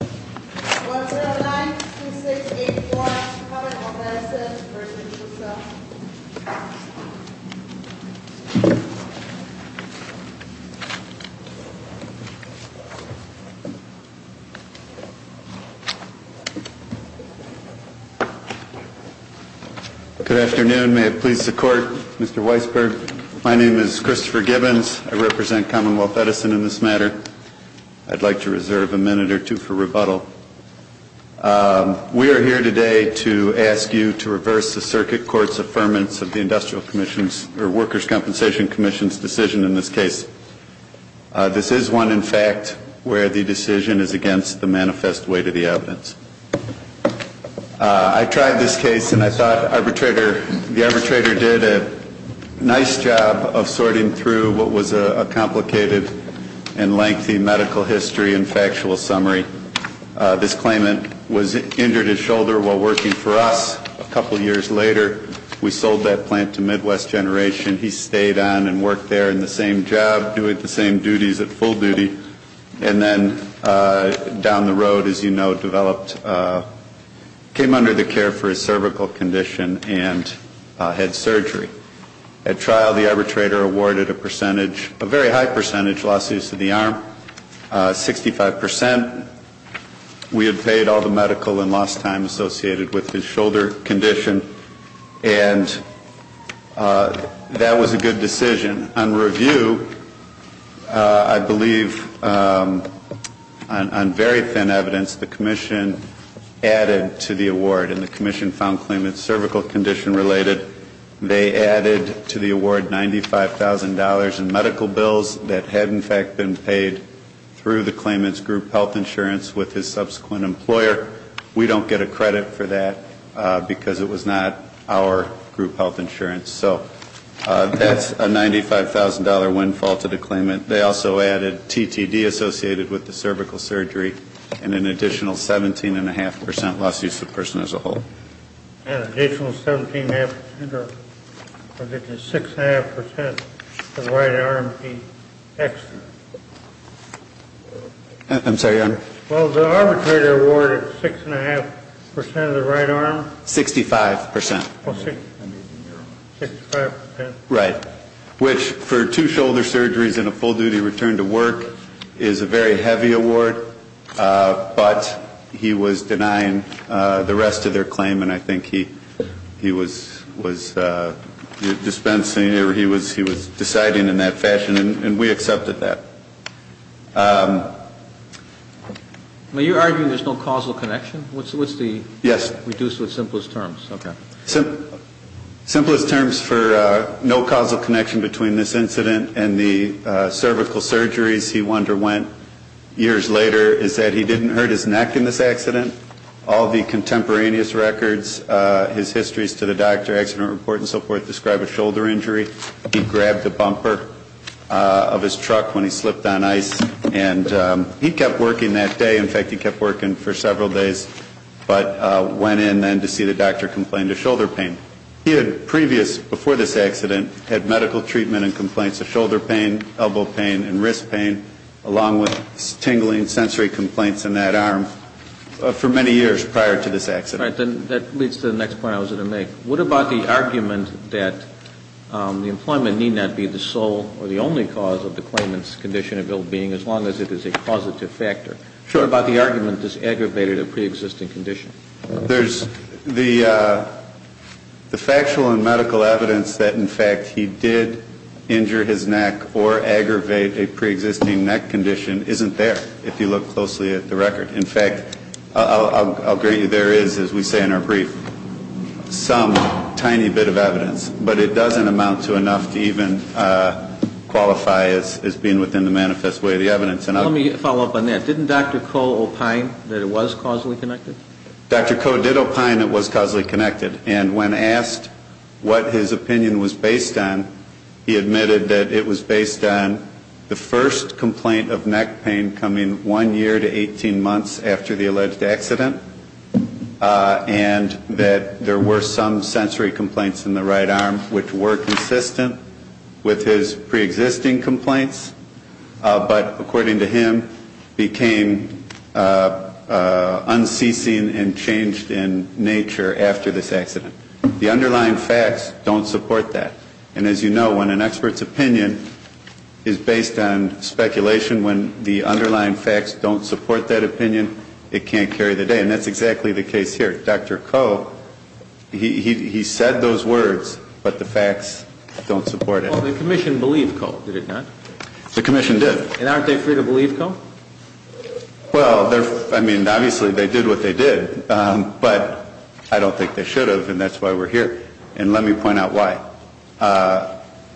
Good afternoon. May it please the Court, Mr. Weisberg. My name is Christopher Gibbons. I represent Commonwealth Edison in this matter. I'd like to reserve a minute or two for rebuttal. We are here today to ask you to reverse the Circuit Court's affirmance of the Industrial Commission's or Workers' Compensation Commission's decision in this case. This is one, in fact, where the decision is against the manifest weight of the evidence. I tried this case and I thought the arbitrator did a nice job of sorting through what was a complicated and lengthy medical history and factual summary. This claimant was injured his shoulder while working for us. A couple years later, we sold that plant to Midwest Generation. He stayed on and worked there in the same job, doing the same duties at full duty, and then down the road, as you know, developed, came under the care for his cervical condition and had surgery. At trial, the arbitrator awarded a percentage, a very high percentage, lawsuits to the arm, 65%. We had paid all the medical and lost time associated with his shoulder condition, and that was a good decision. On review, I believe, on very thin evidence, the Commission added to the award, and the Commission found claimant's cervical condition related. They added to the award $95,000 in medical bills that had, in fact, been paid through the claimant's group health insurance with his subsequent employer. We don't get a credit for that because it was not our group health insurance. So that's a $95,000 windfall to the claimant. They also added TTD associated with the cervical surgery and an additional 17 1⁄2% lawsuits to the person as a whole. And an additional 17 1⁄2% or an additional 6 1⁄2% to the right arm, the extra? I'm sorry, Your Honor? Well, the arbitrator awarded 6 1⁄2% of the right arm. 65%. 65%. Right. Which, for two shoulder surgeries and a full duty return to work, is a very heavy award. But he was denying the rest of their claim, and I think he was dispensing or he was deciding in that fashion, and we accepted that. Are you arguing there's no causal connection? What's the reduced or simplest terms? Yes. Okay. Simplest terms for no causal connection between this incident and the cervical surgeries, he wonder when, years later, is that he didn't hurt his neck in this accident. All the contemporaneous records, his histories to the doctor, accident report and so forth describe a shoulder injury. He grabbed the bumper of his truck when he slipped on ice, and he kept working that day. In fact, he kept working for several days, but went in then to see the doctor complained of shoulder pain. He had previous, before this accident, had medical treatment and along with tingling sensory complaints in that arm for many years prior to this accident. All right. That leads to the next point I was going to make. What about the argument that the employment need not be the sole or the only cause of the claimant's condition of ill-being as long as it is a causative factor? What about the argument this aggravated a preexisting condition? There's the factual and medical evidence that, in fact, he did injure his neck or aggravate a preexisting neck condition isn't there, if you look closely at the record. In fact, I'll agree, there is, as we say in our brief, some tiny bit of evidence. But it doesn't amount to enough to even qualify as being within the manifest way of the evidence. And let me follow up on that. Didn't Dr. Koh opine that it was causally connected? Dr. Koh did opine it was causally connected. And when asked what his opinion was based on, he said that there was the first complaint of neck pain coming one year to 18 months after the alleged accident. And that there were some sensory complaints in the right arm which were consistent with his preexisting complaints. But according to him, became unceasing and changed in nature after this accident. The underlying facts don't support that. And as you know, when an opinion is based on speculation, when the underlying facts don't support that opinion, it can't carry the day. And that's exactly the case here. Dr. Koh, he said those words, but the facts don't support it. Well, the Commission believed Koh, did it not? The Commission did. And aren't they free to believe Koh? Well, I mean, obviously, they did what they did. But I don't think they should have, and that's why we're here. And let me point out why.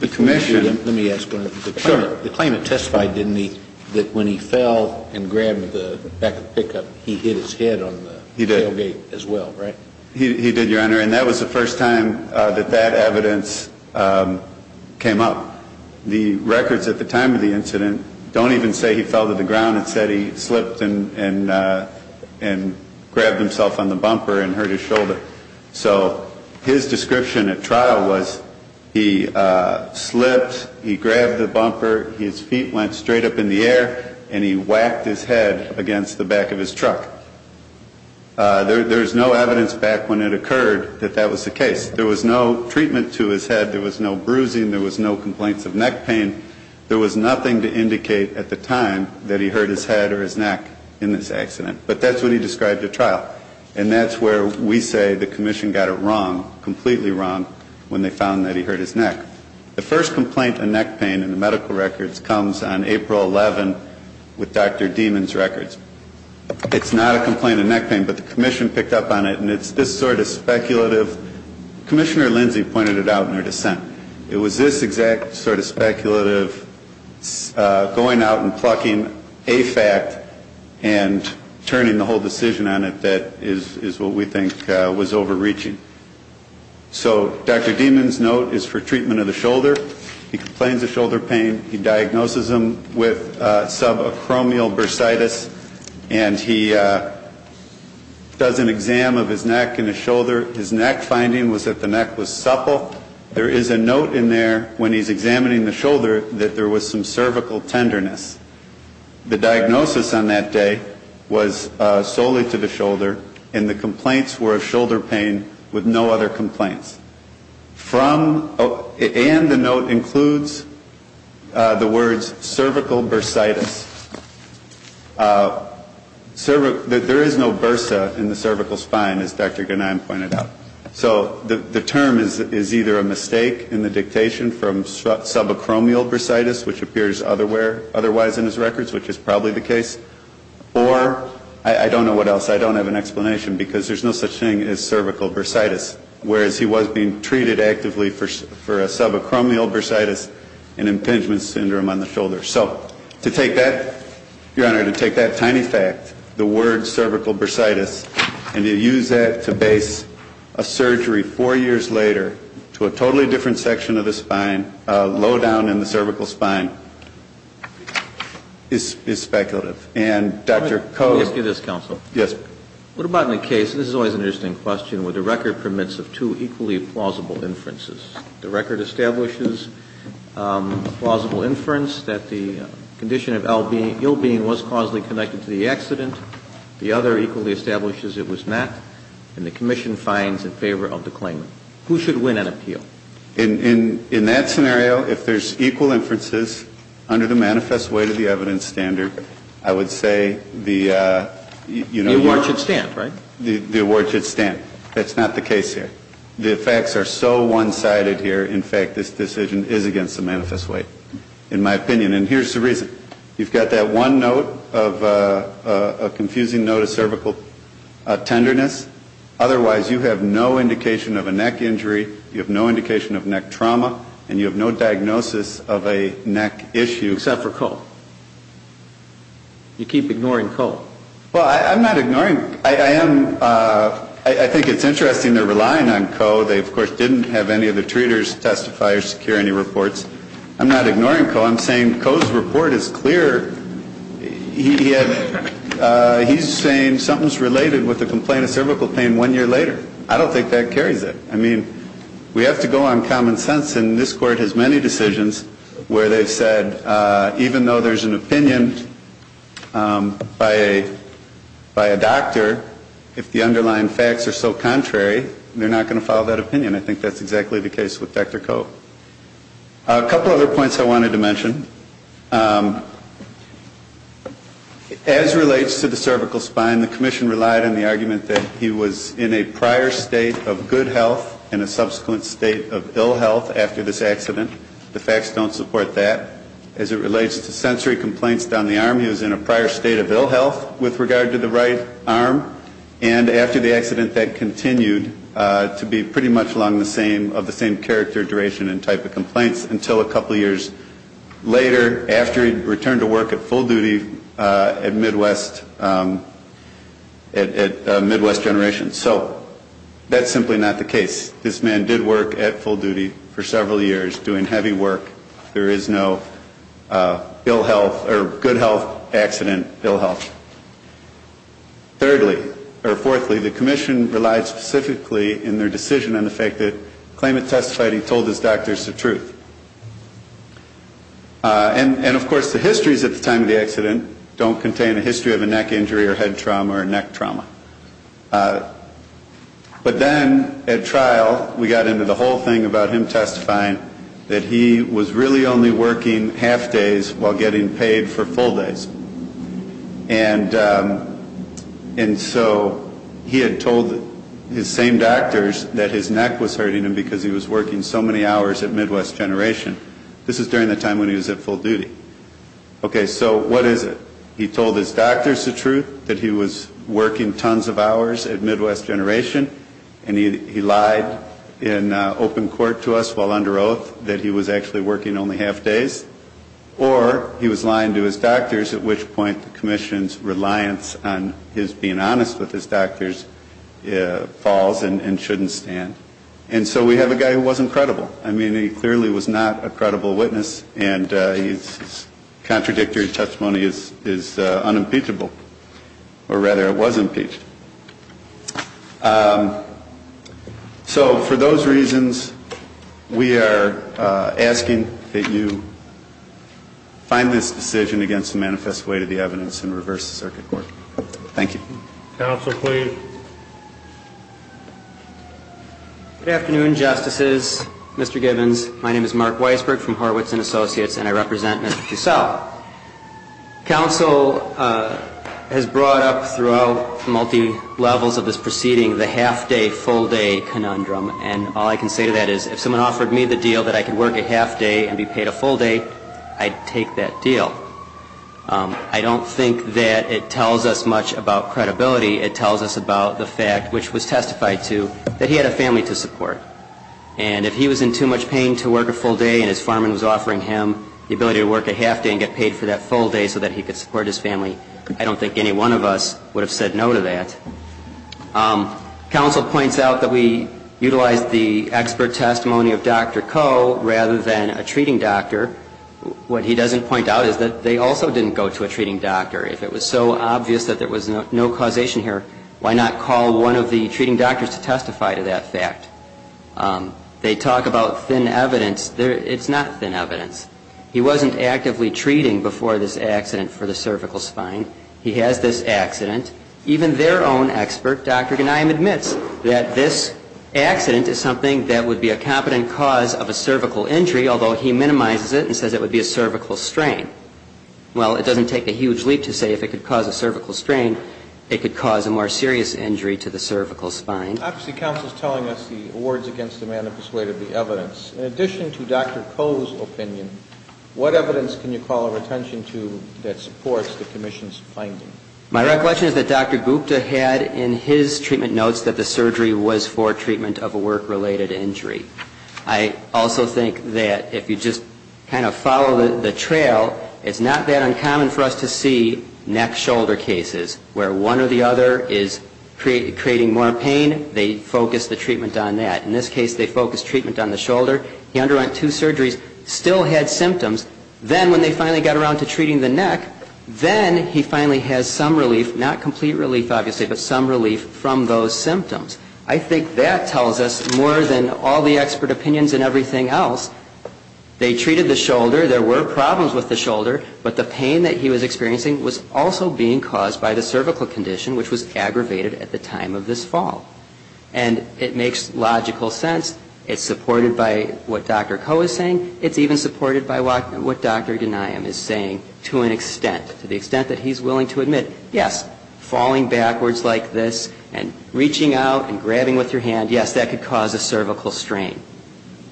The Commission Let me ask one other thing. Sure. The claimant testified, didn't he, that when he fell and grabbed the back of the pickup, he hit his head on the tailgate as well, right? He did, Your Honor. And that was the first time that that evidence came up. The records at the time of the incident don't even say he fell to the ground. It said he slipped and grabbed himself on the bumper and hurt his shoulder. So his description at trial was he slipped, he grabbed the bumper, his feet went straight up in the air, and he whacked his head against the back of his truck. There was no evidence back when it occurred that that was the case. There was no treatment to his head, there was no bruising, there was no complaints of neck pain. There was nothing to indicate at the time that he hurt his head or his neck in this accident. But that's what he described at trial. And that's where we say the Commission got it wrong, completely wrong, when they found that he hurt his neck. The first complaint of neck pain in the medical records comes on April 11th with Dr. Dieman's records. It's not a complaint of neck pain, but the Commission picked up on it, and it's this sort of speculative. Commissioner Lindsay pointed it out in her dissent. It was this exact sort of speculative going out and turning the whole decision on it that is what we think was overreaching. So Dr. Dieman's note is for treatment of the shoulder. He complains of shoulder pain. He diagnoses him with subacromial bursitis, and he does an exam of his neck and his shoulder. His neck finding was that the neck was supple. There is a note in there when he's examining the shoulder that there was some cervical tenderness. The diagnosis on that day was solely to the shoulder, and the complaints were of shoulder pain with no other complaints. And the note includes the words cervical bursitis. There is no bursa in the cervical spine, as Dr. Ghanem pointed out. So the term is either a mistake in the dictation from subacromial bursitis, which appears otherwise in his records, which is probably the case, or I don't know what else. I don't have an explanation, because there's no such thing as cervical bursitis, whereas he was being treated actively for subacromial bursitis and impingement syndrome on the shoulder. So to take that, Your Honor, to take that tiny fact, the word cervical bursitis, and to use that to base a surgery four years later to a totally different section of the spine, low down in the cervical spine, is speculative. And Dr. Koh. Let me ask you this, counsel. Yes. What about in the case, and this is always an interesting question, where the record permits of two equally plausible inferences. The record establishes a plausible inference that the condition of ill being was causally connected to the accident. The other equally establishes it was not. And the commission finds in favor of the claim. Who should win an appeal? In that scenario, if there's equal inferences under the manifest weight of the evidence standard, I would say the, you know. The award should stand, right? The award should stand. That's not the case here. The facts are so one-sided here. In fact, this decision is against the manifest weight, in my opinion. And here's the reason. You've got that one note of a confusing note of cervical tenderness. Otherwise, you have no indication of a neck injury. You have no indication of neck trauma. And you have no diagnosis of a neck issue. Except for Koh. You keep ignoring Koh. Well, I'm not ignoring. I am. I think it's interesting they're relying on Koh. They, of course, didn't have any of the treaters testify or secure any reports. I'm not ignoring Koh. I'm saying Koh's report is clear. He's saying something's related with the complaint of cervical pain one year later. I don't think that carries it. I mean, we have to go on common sense. And this Court has many decisions where they've said even though there's an opinion by a doctor, if the underlying facts are so contrary, they're not going to follow that opinion. I think that's exactly the case with Dr. Koh. A couple other points I wanted to mention. As it relates to the cervical spine, the commission relied on the argument that he was in a prior state of good health and a subsequent state of ill health after this accident. The facts don't support that. As it relates to sensory complaints down the arm, he was in a prior state of ill health with regard to the right arm. And after the accident, that continued to be pretty much along the same, of the same character, duration and type of complaints until a couple of years later after he returned to work at full duty at Midwest, at Midwest Generations. So that's simply not the case. This man did work at full duty for several years, doing heavy work. There is no ill health or good health accident ill health. Thirdly, or fourthly, the commission relied specifically in their decision on the fact that the claimant testified he told his doctors the truth. And of course, the histories at the time of the accident don't contain a history of a neck injury or head trauma or neck trauma. But then at trial, we got into the whole thing about him testifying that he was really only working half days while getting paid for full days. And so he had told his same doctors that his neck was hurting him because he was working so many hours at Midwest Generation. This is during the time when he was at full duty. Okay, so what is it? He told his doctors the truth, that he was working tons of hours at Midwest Generation, and he lied in open days, or he was lying to his doctors, at which point the commission's reliance on his being honest with his doctors falls and shouldn't stand. And so we have a guy who wasn't credible. I mean, he clearly was not a credible witness, and his contradictory testimony is unimpeachable. Or rather, it was impeached. So for those reasons, we are asking that you find this decision against the manifest way to the evidence and reverse the circuit court. Thank you. Counsel, please. Good afternoon, Justices, Mr. Gibbons. My name is Mark Weisberg from Horwitz & Associates, and I represent Mr. Cussell. Counsel has brought up throughout multi-levels of this proceeding the half-day, full-day conundrum. And all I can say to that is, if someone offered me the deal that I could work a half-day and be paid a full day, I'd take that deal. I don't think that it tells us much about credibility. It tells us about the fact, which was testified to, that he had a family to support. And if he was in too much pain to work a full day and his farm was offering him the ability to work a half-day and get paid for that full day so that he could support his family, I don't think any one of us would have said no to that. Counsel points out that we utilized the expert testimony of Dr. Coe rather than a treating doctor. What he doesn't point out is that they also didn't go to a treating doctor. If it was so obvious that there was no causation here, why not call one of the treating doctors to testify to that fact? They talk about thin evidence. It's not thin evidence. He wasn't actively treating before this accident for the cervical spine. He has this accident. Even their own expert, Dr. Ganiam, admits that this accident is something that would be a competent cause of a cervical injury, although he minimizes it and says it would be a cervical strain. Well, it doesn't take a huge leap to say if it could cause a cervical strain, it could cause a more serious injury to the cervical spine. Obviously, counsel is telling us the awards against the man have persuaded the evidence. In addition to Dr. Coe's opinion, what evidence can you call our attention to that supports the commission's finding? My recollection is that Dr. Gupta had in his treatment notes that the surgery was for treatment of a work-related injury. I also think that if you just kind of follow the trail, it's not that uncommon for us to see neck-shoulder cases where one or the other is creating more pain, they focus the treatment on that. In this case, they focused treatment on the shoulder. He underwent two surgeries, still had symptoms. Then when they finally got around to treating the neck, then he finally has some relief, not complete relief, obviously, but some relief from those symptoms. I think that tells us more than all the expert opinions and everything else. They treated the shoulder. There were problems with the shoulder, but the pain that he was experiencing was also being caused by the cervical condition, which was aggravated at the time of this fall. And it makes logical sense. It's supported by what Dr. Coe is saying. It's even supported by what Dr. Gupta is saying. It's supported by what Dr. Ghanayam is saying to an extent, to the extent that he's willing to admit, yes, falling backwards like this and reaching out and grabbing with your hand, yes, that could cause a cervical strain.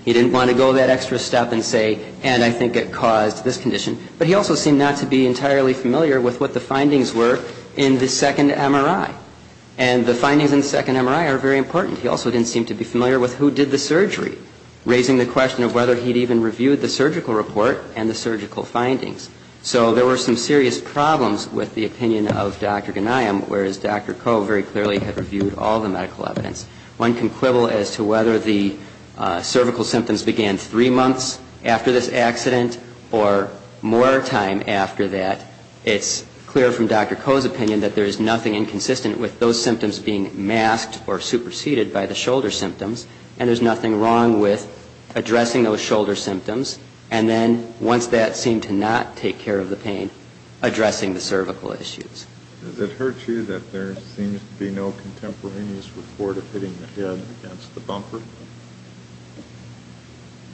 He didn't want to go that extra step and say, and I think it caused this condition. But he also seemed not to be entirely familiar with what the findings were in the second MRI. And the findings in the second MRI are very important. He also didn't seem to be familiar with who did the surgery, raising the question of whether he'd even reviewed the surgical report and the surgical findings. So there were some serious problems with the opinion of Dr. Ghanayam, whereas Dr. Coe very clearly had reviewed all the medical evidence. One can quibble as to whether the cervical symptoms began three months after this accident or more time after that. It's clear from Dr. Coe's opinion that there is nothing inconsistent with those symptoms being masked or superseded by the shoulder symptoms, and there's nothing wrong with addressing those shoulder symptoms, and there's nothing wrong with addressing the shoulder symptoms, and then once that seemed to not take care of the pain, addressing the cervical issues. Does it hurt you that there seems to be no contemporaneous report of hitting the head against the bumper?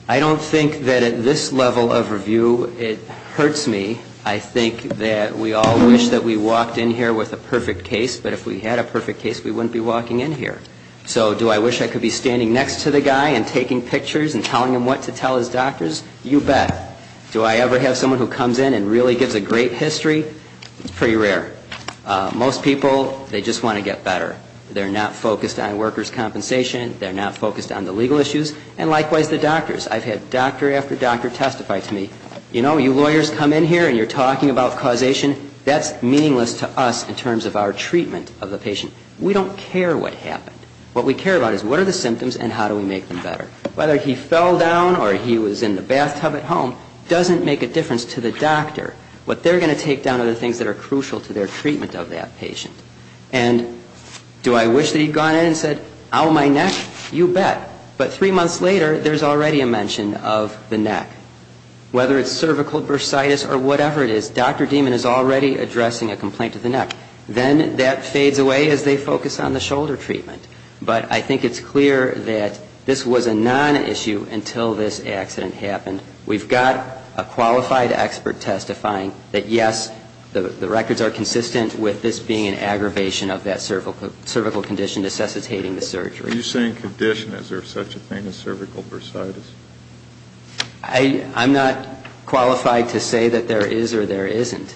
I don't think that at this level of review it hurts me. I think that we all wish that we walked in here with a perfect case, but if we had a perfect case, we wouldn't be walking in here. So do I wish I could be standing next to the guy and taking pictures and telling him what to do with the doctors? You bet. Do I ever have someone who comes in and really gives a great history? It's pretty rare. Most people, they just want to get better. They're not focused on workers' compensation. They're not focused on the legal issues, and likewise the doctors. I've had doctor after doctor testify to me, you know, you lawyers come in here and you're talking about causation. That's meaningless to us in terms of our treatment of the patient. We don't care what happened. What we care about is what are the symptoms and how do we make them better. So what they're going to take down, or he was in the bathtub at home, doesn't make a difference to the doctor. What they're going to take down are the things that are crucial to their treatment of that patient. And do I wish that he'd gone in and said, ow, my neck? You bet. But three months later, there's already a mention of the neck. Whether it's cervical bursitis or whatever it is, Dr. Dieman is already addressing a complaint to the neck. Then that fades away as they focus on the shoulder treatment. But I think it's clear that this was a serious issue. And until this accident happened, we've got a qualified expert testifying that, yes, the records are consistent with this being an aggravation of that cervical condition necessitating the surgery. Are you saying condition? Is there such a thing as cervical bursitis? I'm not qualified to say that there is or there isn't.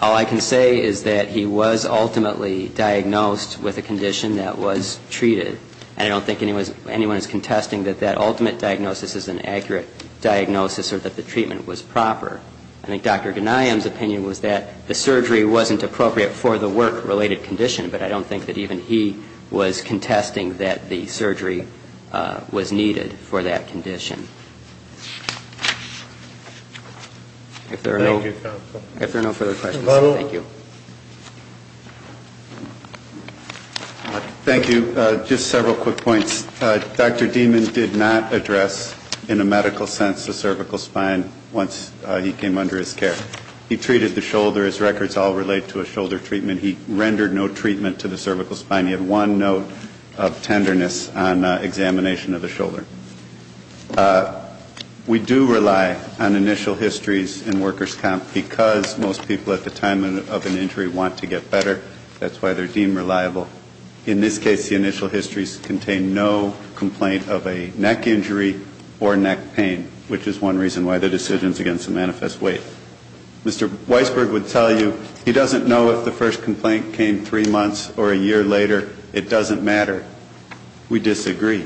All I can say is that he was ultimately diagnosed with a condition that was treated. And I don't think anyone is contesting that that ultimate diagnosis is an accurate diagnosis or that the treatment was proper. I think Dr. Ghanayam's opinion was that the surgery wasn't appropriate for the work-related condition, but I don't think that even he was contesting that the surgery was needed for that condition. If there are no further questions, thank you. Thank you. Just several quick points. Dr. Dieman did not address in a medical sense the cervical spine once he came under his care. He treated the shoulder. His records all relate to a shoulder treatment. He rendered no treatment to the cervical spine. He had one note of tenderness on examination of the shoulder. We do rely on initial histories in workers' camp because most people at the time of the accident were in their early 20s or early 30s. They have an injury, want to get better. That's why they're deemed reliable. In this case, the initial histories contain no complaint of a neck injury or neck pain, which is one reason why the decisions against the manifest wait. Mr. Weisberg would tell you he doesn't know if the first complaint came three months or a year later. It doesn't matter. We disagree.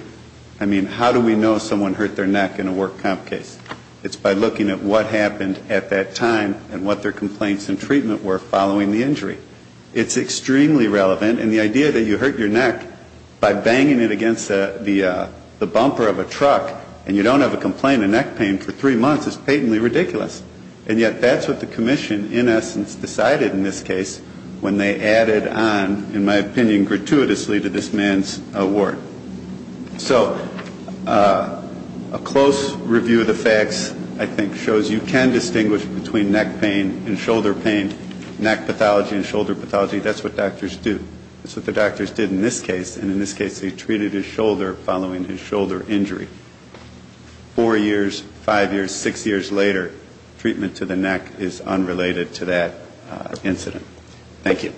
I mean, how do we know someone hurt their neck in a work camp case? It's by looking at what happened at that time and what their complaints and treatment were following the injury. It's extremely relevant. And the idea that you hurt your neck by banging it against the bumper of a truck and you don't have a complaint of neck pain for three months is patently ridiculous. And yet, that's what the commission in essence decided in this case when they added on, in my opinion, gratuitously, to this man's award. So a close review of the facts, I think, shows you can distinguish between neck pain and shoulder pain. It's not a matter of pain. Neck pathology and shoulder pathology, that's what doctors do. That's what the doctors did in this case. And in this case, they treated his shoulder following his shoulder injury. Four years, five years, six years later, treatment to the neck is unrelated to that incident. Thank you.